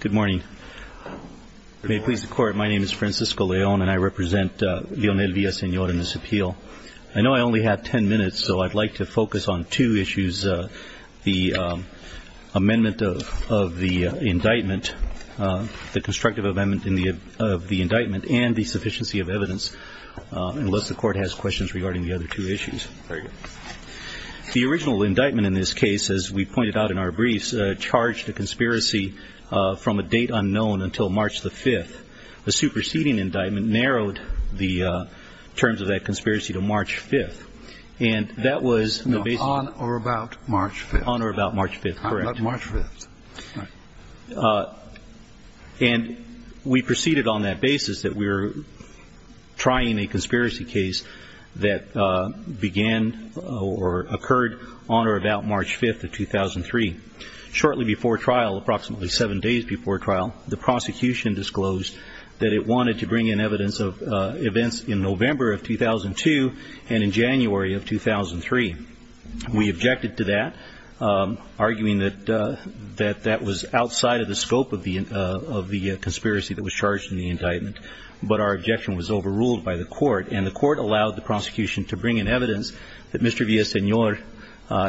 Good morning. May it please the court, my name is Francisco León and I represent Leonel Villasenor in this appeal. I know I only have 10 minutes so I'd like to focus on two issues, the amendment of the indictment, the constructive amendment of the indictment and the sufficiency of evidence, unless the court has questions regarding the other two issues. The original indictment in this date unknown until March the 5th, the superseding indictment narrowed the terms of that conspiracy to March 5th. And that was on or about March 5th. On or about March 5th, correct. Not March 5th. And we proceeded on that basis that we were trying a conspiracy case that began or occurred on or about March 5th of 2003, shortly before trial, approximately seven days before trial, the prosecution disclosed that it wanted to bring in evidence of events in November of 2002 and in January of 2003. We objected to that, arguing that that that was outside of the scope of the of the conspiracy that was charged in the indictment. But our objection was overruled by the court and the court allowed the prosecution to bring in evidence that Mr. Villasenor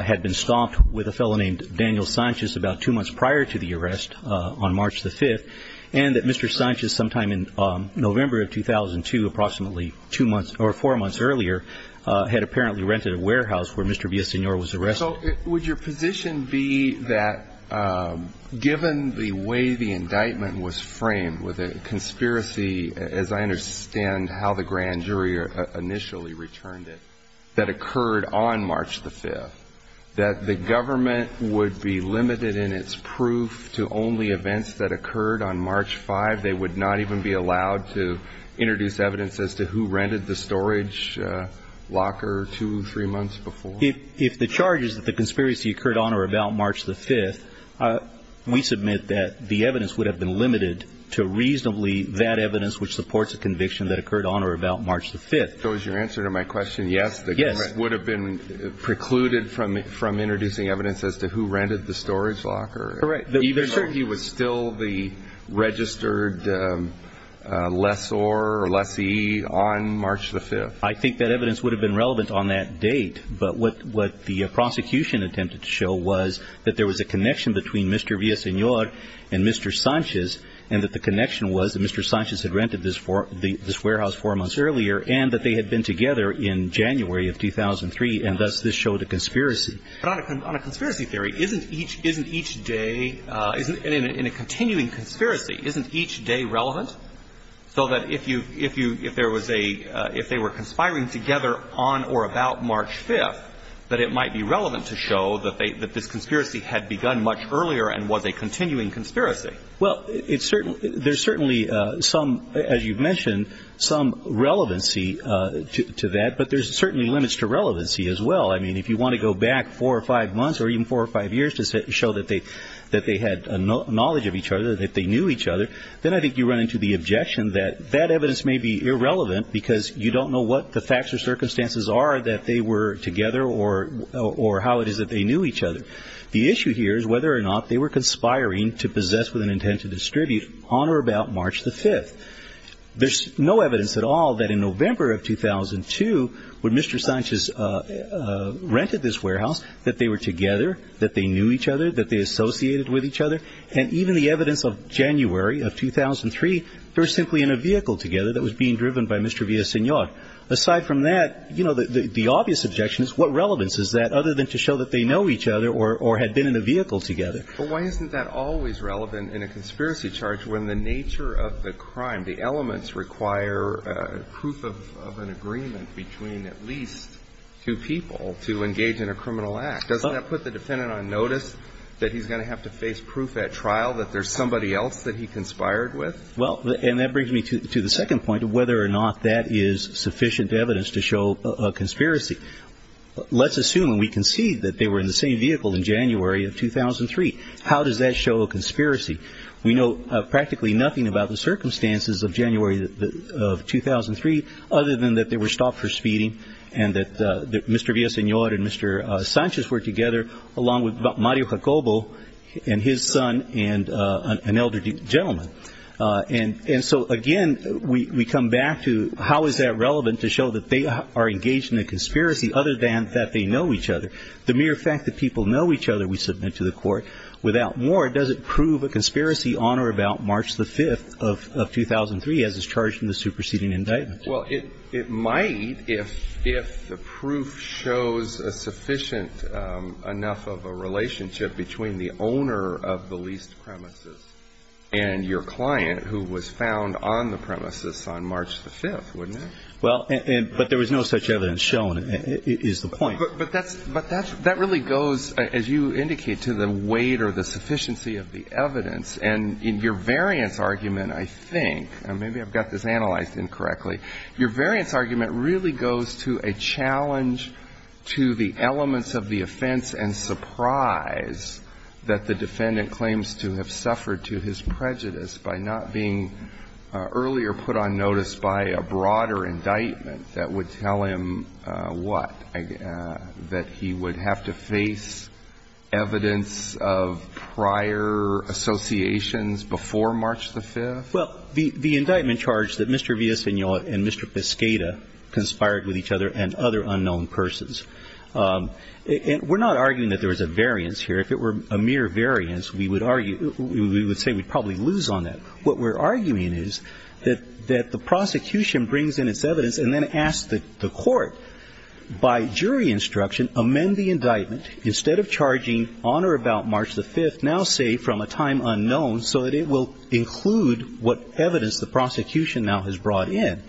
had been stopped with a fellow named Daniel Sanchez about two months prior to the arrest, on March the 5th, and that Mr. Sanchez sometime in November of 2002, approximately two months or four months earlier, had apparently rented a warehouse where Mr. Villasenor was arrested. So would your position be that given the way the indictment was framed with a conspiracy, as I understand how the grand jury initially returned it, that occurred on March the 5th, that the government would be limited in its proof to only events that occurred on March 5th? They would not even be allowed to introduce evidence as to who rented the storage locker two, three months before? If the charge is that the conspiracy occurred on or about March the 5th, we submit that the evidence would have been limited to reasonably that evidence which supports a conviction that occurred on or about March the 5th. If that was your answer to my question, yes, the government would have been precluded from introducing evidence as to who rented the storage locker, even though he was still the registered lessor or lessee on March the 5th? I think that evidence would have been relevant on that date, but what the prosecution attempted to show was that there was a connection between Mr. Villasenor and Mr. Sanchez, and that the connection was that Mr. Sanchez had rented this storage locker on March the 5th, and Mr. Villasenor had rented it on March the 5th. And so the prosecution attempted to show that they had been together in January of 2003, and thus this showed a conspiracy. But on a conspiracy theory, isn't each day, in a continuing conspiracy, isn't each day relevant? So that if you, if there was a, if they were conspiring together on or about March 5th, that it might be relevant to show that this conspiracy had begun much earlier and was a continuing conspiracy. Well, there's certainly some, as you've mentioned, some relevancy to that, but there's certainly limits to relevancy as well. I mean, if you want to go back four or five months, or even four or five years, to show that they had knowledge of each other, that they knew each other, then I think you run into the objection that that evidence may be irrelevant because you don't know what the facts or circumstances are that they were together, or how it is that they knew each other. The issue here is whether or not they were conspiring to possess with an intent to distribute on or about March the 5th. There's no evidence at all that in November of 2002, when Mr. Sanchez rented this warehouse, that they were together, that they knew each other, that they associated with each other, and even the evidence of January of 2003, they were simply in a vehicle together that was being driven by Mr. Villaseñor. Aside from that, you know, the obvious objection is what relevance is that other than to show that they know each other or had been in a vehicle together? But why isn't that always relevant in a conspiracy charge when the nature of the crime, the elements require proof of an agreement between at least two people to engage in a criminal act? Doesn't that put the defendant on notice that he's going to have to face proof at trial that there's somebody else that he conspired with? Well, and that brings me to the second point of whether or not that is sufficient evidence to show a conspiracy. Let's assume and we can see that they were in the same vehicle in January of 2003. How does that show a conspiracy? We know practically nothing about the circumstances of January of 2003, other than that they were stopped for speeding and that Mr. Villaseñor and Mr. Sanchez were together, along with Mario Jacobo and his son and an elderly gentleman. And so, again, we come back to how is that relevant to show that they are engaged in a conspiracy, other than that they know each other? The mere fact that people know each other, we submit to the court. Without more, does it prove a conspiracy on or about March the 5th of 2003, as is charged in the superseding indictment? Well, it might if the proof shows a sufficient enough of a relationship between the owner of the leased premises and your client, who was found on the premises on March the 5th, wouldn't it? Well, but there was no such evidence shown, is the point. But that really goes, as you indicate, to the weight or the sufficiency of the evidence. And your variance argument, I think, and maybe I've got this analyzed incorrectly, your variance argument really goes to a challenge to the elements of the offense and surprise that the defendant claims to have suffered to his prejudice by not being earlier put on notice by a broader indictment that would tell him what, that he would have to face evidence of prior associations before March the 5th? Well, the indictment charged that Mr. Villasenor and Mr. Piscata conspired with each other and other unknown persons. And we're not arguing that there was a variance here. If it were a mere variance, we would argue, we would say we'd probably lose on that. What we're arguing is that the prosecution brings in its evidence and then asks the court, by jury instruction, amend the indictment, instead of charging on or about March the 5th, now say from a time unknown, so that it will include what evidence the prosecution now has brought in.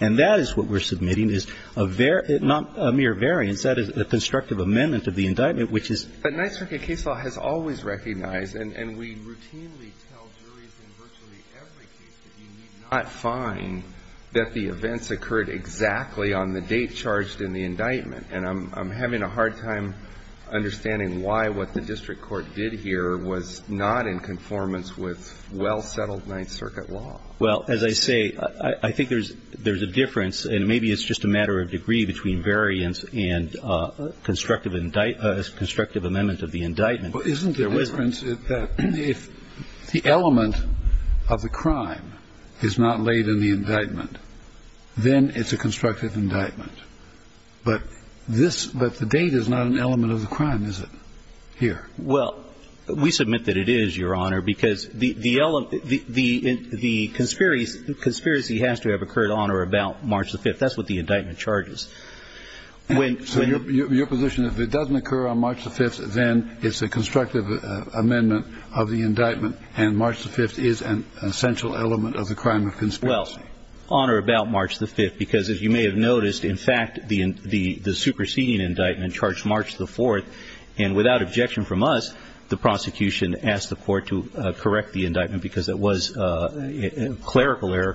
And that is what we're submitting, not a mere variance. That is a constructive amendment of the indictment, which is But Ninth Circuit case law has always recognized, and we routinely tell juries in virtually every case that you need not find that the events occurred exactly on the date charged in the indictment. And I'm having a hard time understanding why what the district court did here was not in conformance with well-settled Ninth Circuit law. Well, as I say, I think there's a difference, and maybe it's just a matter of degree between variance and constructive amendment of the indictment. But isn't the difference that if the element of the crime is not laid in the indictment, then it's a constructive indictment? But this – but the date is not an element of the crime, is it, here? Well, we submit that it is, Your Honor, because the conspiracy has to have occurred on or about March 5th. That's what the indictment charges. So your position is if it doesn't occur on March 5th, then it's a constructive amendment of the indictment, and March 5th is an essential element of the crime of conspiracy? Well, on or about March 5th, because as you may have noticed, in fact, the superseding indictment charged March the 4th, and without objection from us, the prosecution asked the court to correct the indictment because it was a clerical error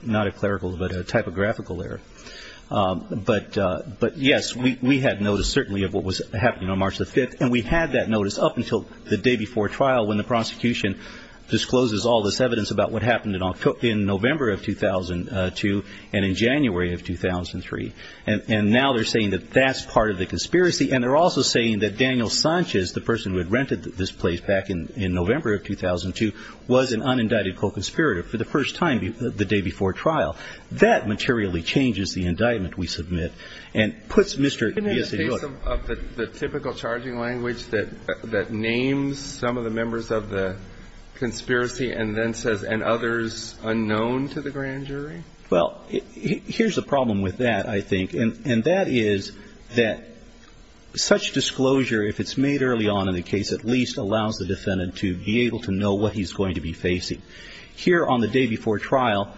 – not a clerical, but a typographical error. But, yes, we had notice, certainly, of what was happening on March the 5th, and we had that notice up until the day before trial when the prosecution discloses all this evidence about what happened in November of 2002 and in January of 2003. And now they're saying that that's part of the conspiracy, and they're also saying that Daniel Sanchez, the person who had rented this place back in November of 2002, was an unindicted co-conspirator for the first time the day before trial. That materially changes the indictment we submit and puts Mr. – Can I just say something of the typical charging language that names some of the members of the conspiracy and then says, and others unknown to the grand jury? Well, here's the problem with that, I think, and that is that such disclosure, if it's made early on in the case, at least allows the defendant to be able to know what he's going to be facing. Here on the day before trial,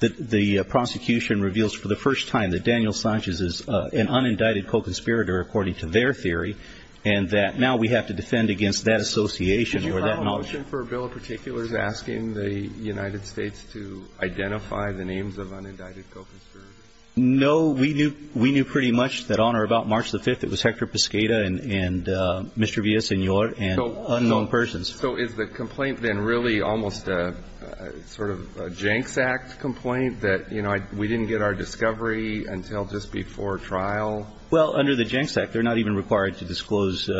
the prosecution reveals for the first time that Daniel Sanchez is an unindicted co-conspirator, according to their theory, and that now we have to defend against that association or that notion. The question for a bill in particular is asking the United States to identify the names of unindicted co-conspirators. No. We knew pretty much that on or about March the 5th, it was Hector Piscata and Mr. Villasenor and unknown persons. So is the complaint then really almost sort of a Jenks Act complaint that, you know, we didn't get our discovery until just before trial? Well, under the Jenks Act, they're not even required to disclose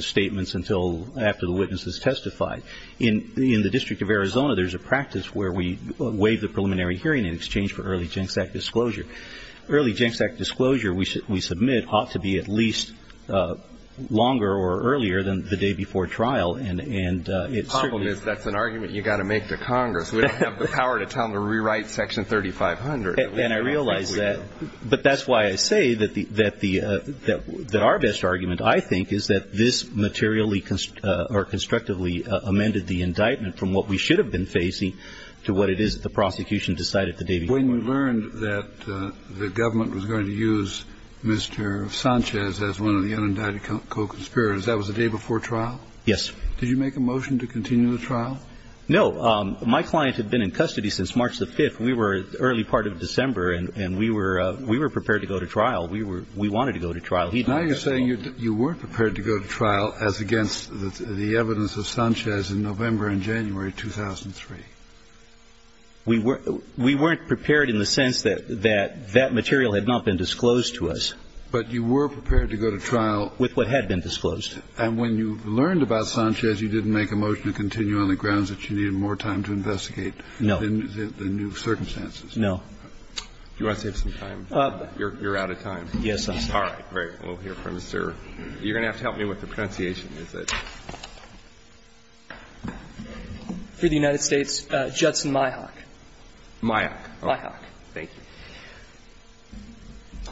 statements until after the witness has testified. In the District of Arizona, there's a practice where we waive the preliminary hearing in exchange for early Jenks Act disclosure. Early Jenks Act disclosure, we submit, ought to be at least longer or earlier than the day before trial, and it certainly ---- The problem is that's an argument you've got to make to Congress. We don't have the power to tell them to rewrite Section 3500. And I realize that, but that's why I say that our best argument, I think, is that this materially or constructively amended the indictment from what we should have been facing to what it is that the prosecution decided the day before. When you learned that the government was going to use Mr. Sanchez as one of the unindicted co-conspirators, that was the day before trial? Yes. Did you make a motion to continue the trial? No. My client had been in custody since March the 5th. We were early part of December, and we were prepared to go to trial. We wanted to go to trial. Now you're saying you weren't prepared to go to trial as against the evidence of Sanchez in November and January 2003? We weren't prepared in the sense that that material had not been disclosed to us. But you were prepared to go to trial? With what had been disclosed. And when you learned about Sanchez, you didn't make a motion to continue on the grounds that you needed more time to investigate the new circumstances? No. Do you want to save some time? You're out of time. Yes. All right. Great. We'll hear from Mr. You're going to have to help me with the pronunciation. Is it? For the United States, Judson Myhock. Myhock. Myhock. Thank you.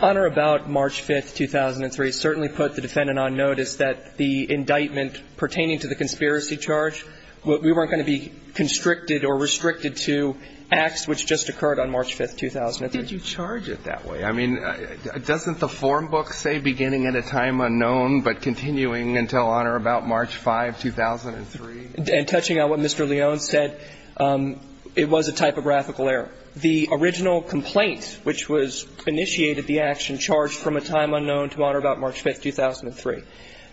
Honor about March 5th, 2003 certainly put the defendant on notice that the indictment pertaining to the conspiracy charge, we weren't going to be constricted or restricted to acts which just occurred on March 5th, 2003. Did you charge it that way? I mean, doesn't the form book say beginning at a time unknown but continuing until honor about March 5th, 2003? And touching on what Mr. Leone said, it was a typographical error. The original complaint which was initiated, the action charged from a time unknown to honor about March 5th, 2003.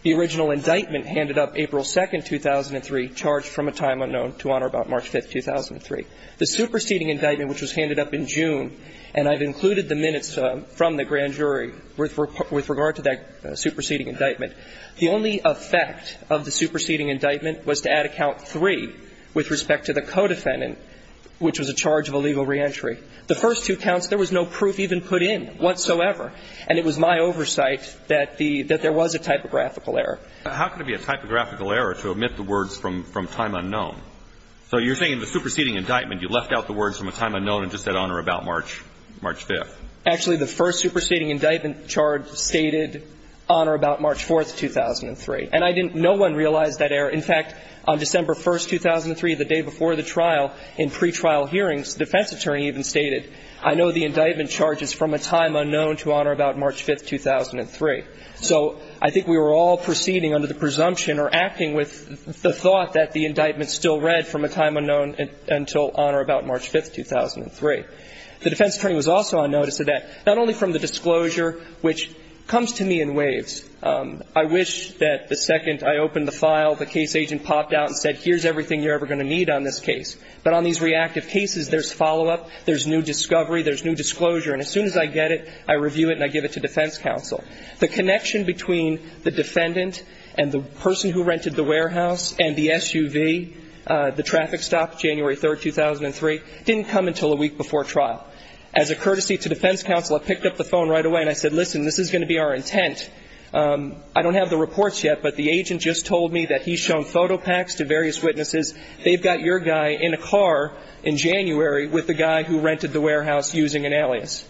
The original indictment handed up April 2nd, 2003, charged from a time unknown to honor about March 5th, 2003. The superseding indictment which was handed up in June, and I've included the minutes from the grand jury with regard to that superseding indictment, the only effect of the superseding indictment was to add a count three with respect to the co-defendant, which was a charge of illegal reentry. The first two counts, there was no proof even put in whatsoever, and it was my oversight that there was a typographical error. How can it be a typographical error to omit the words from time unknown? So you're saying the superseding indictment, you left out the words from a time unknown and just said honor about March 5th? Actually, the first superseding indictment charge stated honor about March 4th, 2003. And I didn't – no one realized that error. In fact, on December 1st, 2003, the day before the trial, in pretrial hearings, the defense attorney even stated, I know the indictment charge is from a time unknown to honor about March 5th, 2003. So I think we were all proceeding under the presumption or acting with the thought that the indictment still read from a time unknown until honor about March 5th, 2003. The defense attorney was also on notice of that, not only from the disclosure, which comes to me in waves. I wish that the second I opened the file, the case agent popped out and said, here's everything you're ever going to need on this case. But on these reactive cases, there's follow-up, there's new discovery, there's new disclosure. And as soon as I get it, I review it and I give it to defense counsel. The connection between the defendant and the person who rented the warehouse and the SUV, the traffic stop, January 3rd, 2003, didn't come until a week before trial. As a courtesy to defense counsel, I picked up the phone right away and I said, listen, this is going to be our intent. I don't have the reports yet, but the agent just told me that he's shown photo packs to various witnesses. They've got your guy in a car in January with the guy who rented the warehouse using an alias.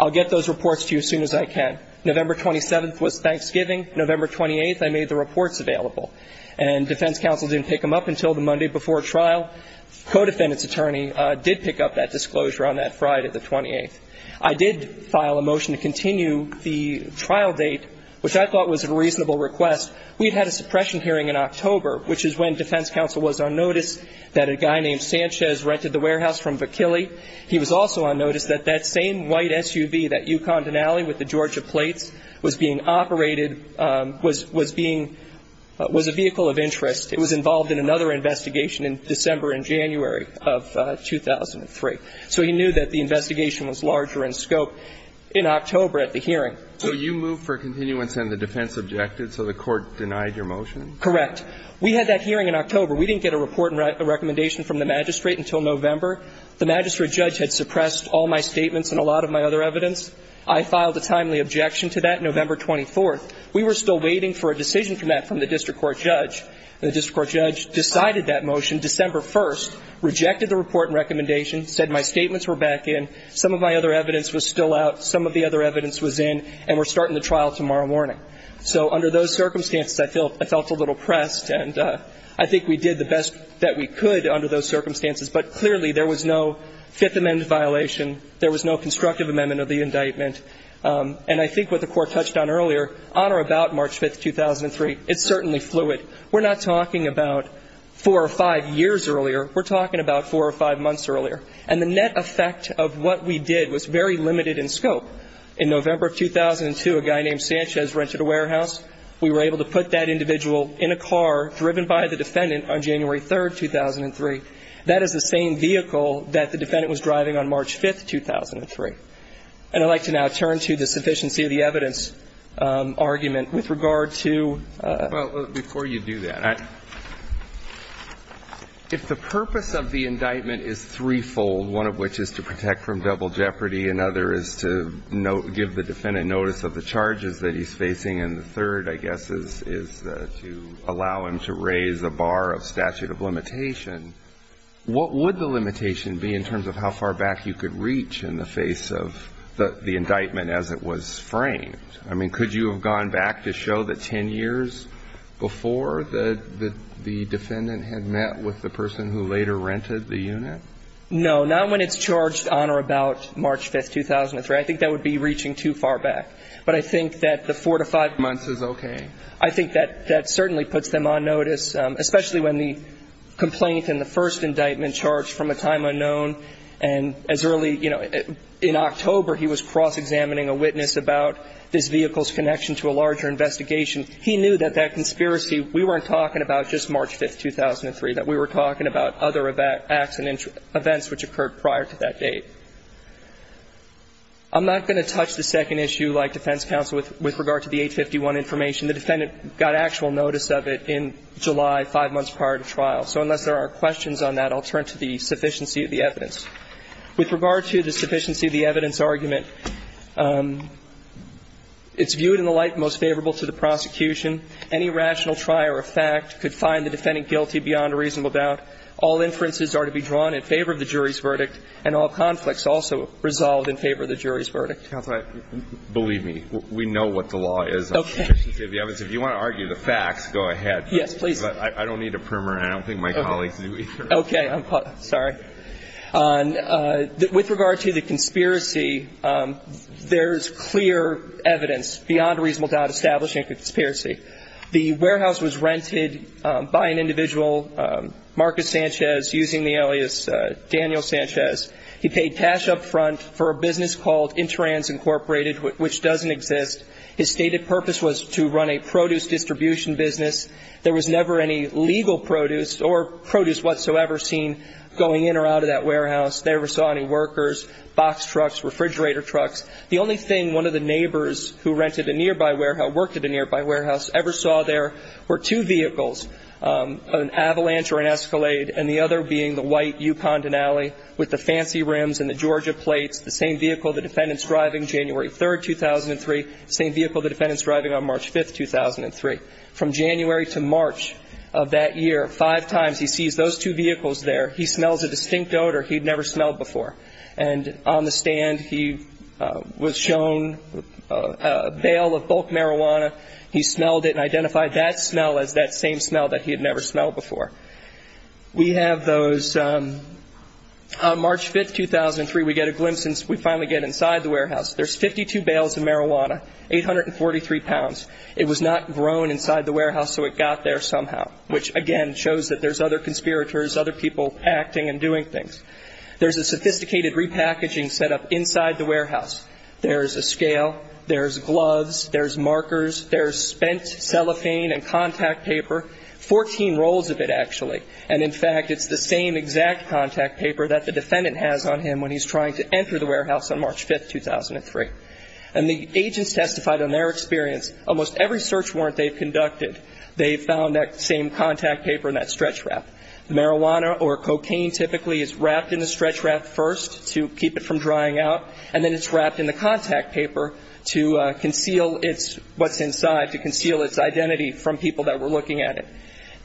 I'll get those reports to you as soon as I can. November 27th was Thanksgiving. November 28th, I made the reports available. And defense counsel didn't pick them up until the Monday before trial. Codefendant's attorney did pick up that disclosure on that Friday, the 28th. I did file a motion to continue the trial date, which I thought was a reasonable request. We'd had a suppression hearing in October, which is when defense counsel was on notice that a guy named Sanchez rented the warehouse from Vakili. He was also on notice that that same white SUV, that Yukon Denali with the Georgia plates, was being operated, was being, was a vehicle of interest. It was involved in another investigation in December and January of 2003. So he knew that the investigation was larger in scope in October at the hearing. So you moved for continuance and the defense objected, so the court denied your motion? Correct. We had that hearing in October. We didn't get a report and recommendation from the magistrate until November. The magistrate judge had suppressed all my statements and a lot of my other evidence. I filed a timely objection to that November 24th. We were still waiting for a decision from that, from the district court judge. And the district court judge decided that motion December 1st, rejected the report and recommendation, said my statements were back in, some of my other evidence was still out, some of the other evidence was in, and we're starting the trial tomorrow morning. So under those circumstances, I felt a little pressed, and I think we did the best that we could under those circumstances. But clearly there was no Fifth Amendment violation, there was no constructive amendment of the indictment. And I think what the court touched on earlier, on or about March 5th, 2003, it's certainly fluid. We're not talking about four or five years earlier. We're talking about four or five months earlier. And the net effect of what we did was very limited in scope. In November of 2002, a guy named Sanchez rented a warehouse. We were able to put that individual in a car driven by the defendant on January 3rd, 2003. That is the same vehicle that the defendant was driving on March 5th, 2003. And I'd like to now turn to the sufficiency of the evidence argument with regard to ---- Well, before you do that, if the purpose of the indictment is threefold, one of which is to protect from double jeopardy, another is to give the defendant notice of the charges that he's facing, and the third, I guess, is to allow him to raise a bar of statute of limitation, what would the limitation be in terms of how far back you could reach in the face of the indictment as it was framed? I mean, could you have gone back to show that ten years before the defendant had met with the person who later rented the unit? No, not when it's charged on or about March 5th, 2003. I think that would be reaching too far back. But I think that the four to five months is okay. I think that that certainly puts them on notice, especially when the complaint and the first indictment charged from a time unknown and as early, you know, in October he was cross-examining a witness about this vehicle's connection to a larger investigation. He knew that that conspiracy, we weren't talking about just March 5th, 2003, that we were talking about other acts and events which occurred prior to that date. I'm not going to touch the second issue, like defense counsel, with regard to the 851 information. The defendant got actual notice of it in July, five months prior to trial. So unless there are questions on that, I'll turn to the sufficiency of the evidence. With regard to the sufficiency of the evidence argument, it's viewed in the light most favorable to the prosecution. Any rational trier of fact could find the defendant guilty beyond a reasonable doubt. All inferences are to be drawn in favor of the jury's verdict, and all conflicts also resolved in favor of the jury's verdict. Counsel, believe me, we know what the law is on sufficiency of the evidence. Okay. If you want to argue the facts, go ahead. Yes, please. I don't need a primer, and I don't think my colleagues do either. Okay. I'm sorry. With regard to the conspiracy, there is clear evidence beyond a reasonable doubt establishing a conspiracy. The warehouse was rented by an individual, Marcus Sanchez, using the alias Daniel Sanchez. He paid cash up front for a business called Interans Incorporated, which doesn't exist. His stated purpose was to run a produce distribution business. There was never any legal produce or produce whatsoever seen going in or out of that warehouse. They never saw any workers, box trucks, refrigerator trucks. The only thing one of the neighbors who rented a nearby warehouse, worked at a nearby warehouse, ever saw there were two vehicles, an Avalanche or an Escalade, and the other being the white Yukon Denali with the fancy rims and the Georgia plates, the same vehicle the defendant's driving January 3, 2003, same vehicle the defendant's driving on March 5, 2003. From January to March of that year, five times he sees those two vehicles there. He smells a distinct odor he'd never smelled before. And on the stand he was shown a bale of bulk marijuana. He smelled it and identified that smell as that same smell that he had never smelled before. We have those on March 5, 2003, we get a glimpse and we finally get inside the warehouse. There's 52 bales of marijuana, 843 pounds. It was not grown inside the warehouse so it got there somehow, which again shows that there's other conspirators, other people acting and doing things. There's a sophisticated repackaging set up inside the warehouse. There's a scale, there's gloves, there's markers, there's spent cellophane and contact paper, 14 rolls of it actually. And in fact, it's the same exact contact paper that the defendant has on him when he's trying to enter the warehouse on March 5, 2003. And the agents testified on their experience, almost every search warrant they've conducted, they found that same contact paper in that stretch wrap. Marijuana or cocaine typically is wrapped in the stretch wrap first to keep it from drying out and then it's wrapped in the contact paper to conceal what's inside, to conceal its identity from people that were looking at it.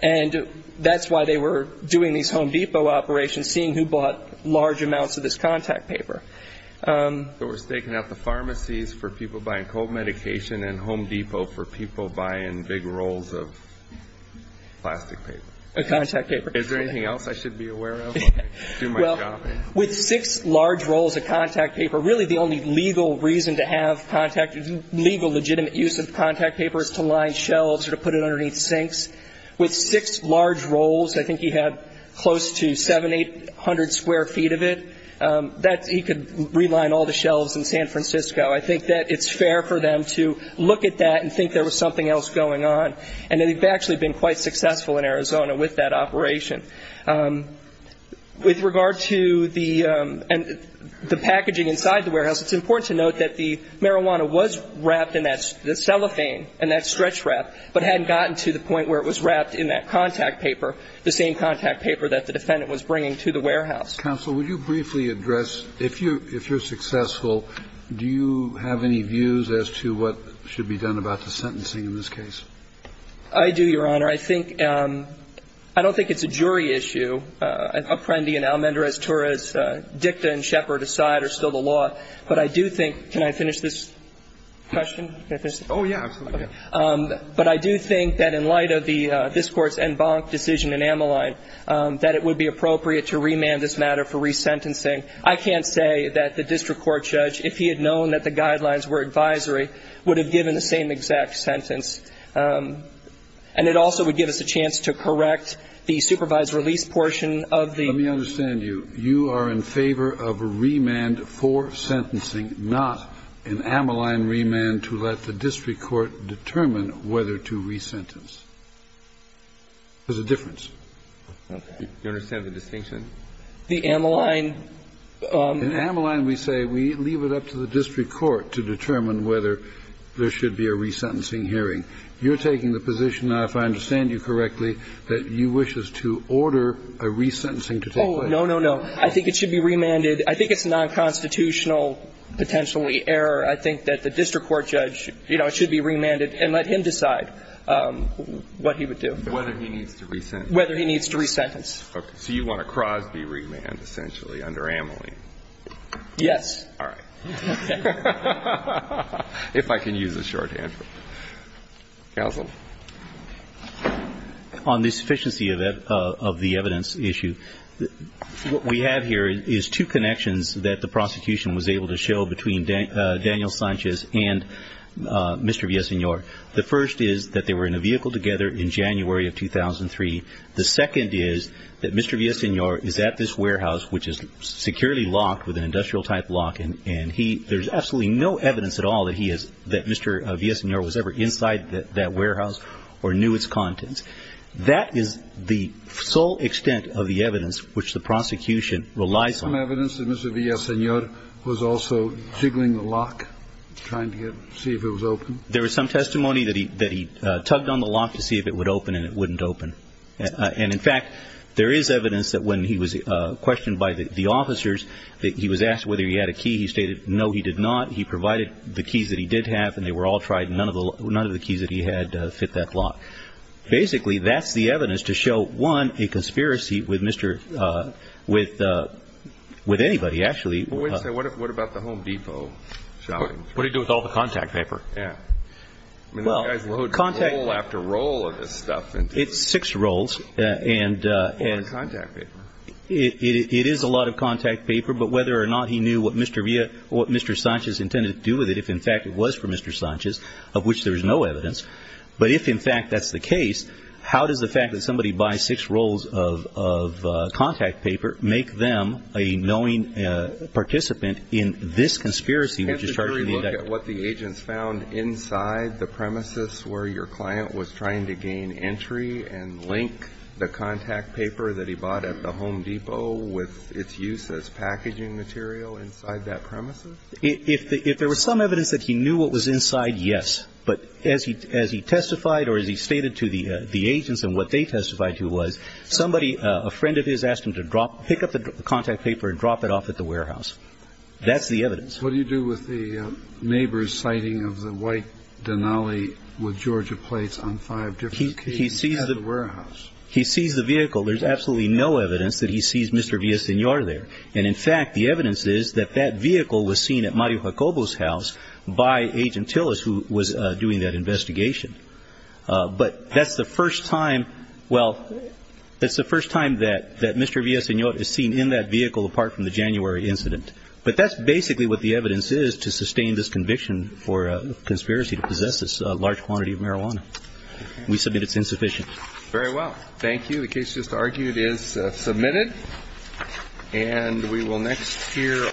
And that's why they were doing these Home Depot operations, seeing who bought large amounts of this contact paper. So we're staking out the pharmacies for people buying cold medication and Home Depot for people buying big rolls of plastic paper. Contact paper. Is there anything else I should be aware of? Well, with six large rolls of contact paper, really the only legal reason to have contact, legal legitimate use of contact paper is to line shelves or to put it underneath sinks. With six large rolls, I think he had close to 700, 800 square feet of it, that he could reline all the shelves in San Francisco. I think that it's fair for them to look at that and think there was something else going on. And they've actually been quite successful in Arizona with that operation. With regard to the packaging inside the warehouse, it's important to note that the marijuana was wrapped in that cellophane, in that stretch wrap, but hadn't gotten to the point where it was wrapped in that contact paper, the same contact paper that the defendant was bringing to the warehouse. Counsel, would you briefly address, if you're successful, do you have any views as to what should be done about the sentencing in this case? I do, Your Honor. I think – I don't think it's a jury issue. Apprendi and Almendrez-Torres' dicta and Shepard aside are still the law. But I do think – can I finish this question? Oh, yeah, absolutely. But I do think that in light of this Court's en banc decision in Ameline, that it would be appropriate to remand this matter for resentencing. I can't say that the district court judge, if he had known that the guidelines were advisory, would have given the same exact sentence. And it also would give us a chance to correct the supervised release portion of the Let me understand you. You are in favor of a remand for sentencing, not an Ameline remand to let the district court determine whether to resentence. There's a difference. Do you understand the distinction? The Ameline – In Ameline, we say we leave it up to the district court to determine whether there should be a resentencing hearing. You're taking the position now, if I understand you correctly, that you wish us to order a resentencing to take place. Oh, no, no, no. I think it should be remanded. I think it's a nonconstitutional, potentially, error. I think that the district court judge, you know, it should be remanded and let him decide what he would do. Whether he needs to resent. Whether he needs to resentence. Okay. So you want a Crosby remand, essentially, under Ameline? Yes. All right. Okay. If I can use a shorthand. Counsel. On the sufficiency of the evidence issue, what we have here is two connections that the prosecution was able to show between Daniel Sanchez and Mr. Villasenor. The first is that they were in a vehicle together in January of 2003. The second is that Mr. Villasenor is at this warehouse, which is securely locked with an industrial-type lock, and there's absolutely no evidence at all that Mr. Villasenor was ever inside that warehouse or knew its contents. That is the sole extent of the evidence which the prosecution relies on. Was there some evidence that Mr. Villasenor was also jiggling the lock, trying to see if it was open? There was some testimony that he tugged on the lock to see if it would open, and it wouldn't open. And, in fact, there is evidence that when he was questioned by the officers, that he was asked whether he had a key. He stated no, he did not. He provided the keys that he did have, and they were all tried, and none of the keys that he had fit that lock. Basically, that's the evidence to show, one, a conspiracy with anybody, actually. What about the Home Depot shopping? What did he do with all the contact paper? Yeah. I mean, those guys load roll after roll of this stuff. It's six rolls. Or contact paper. It is a lot of contact paper, but whether or not he knew what Mr. Sanchez intended to do with it, if, in fact, it was for Mr. Sanchez, of which there is no evidence, but if, in fact, that's the case, how does the fact that somebody buys six rolls of contact paper make them a knowing participant in this conspiracy which is charged for the indictment? Can't the jury look at what the agents found inside the premises where your client was trying to gain entry and link the contact paper that he bought at the Home Depot with its use as packaging material inside that premises? If there was some evidence that he knew what was inside, yes. But as he testified or as he stated to the agents and what they testified to was, somebody, a friend of his, asked him to pick up the contact paper and drop it off at the warehouse. That's the evidence. What do you do with the neighbor's sighting of the white Denali with Georgia plates on five different occasions at the warehouse? He sees the vehicle. There's absolutely no evidence that he sees Mr. Villasenor there. And, in fact, the evidence is that that vehicle was seen at Mario Jacobo's house by Agent Tillis, who was doing that investigation. But that's the first time, well, that's the first time that Mr. Villasenor is seen in that vehicle apart from the January incident. But that's basically what the evidence is to sustain this conviction for conspiracy to possess this large quantity of marijuana. We submit it's insufficient. Very well. Thank you. The case just argued is submitted. And we will next hear.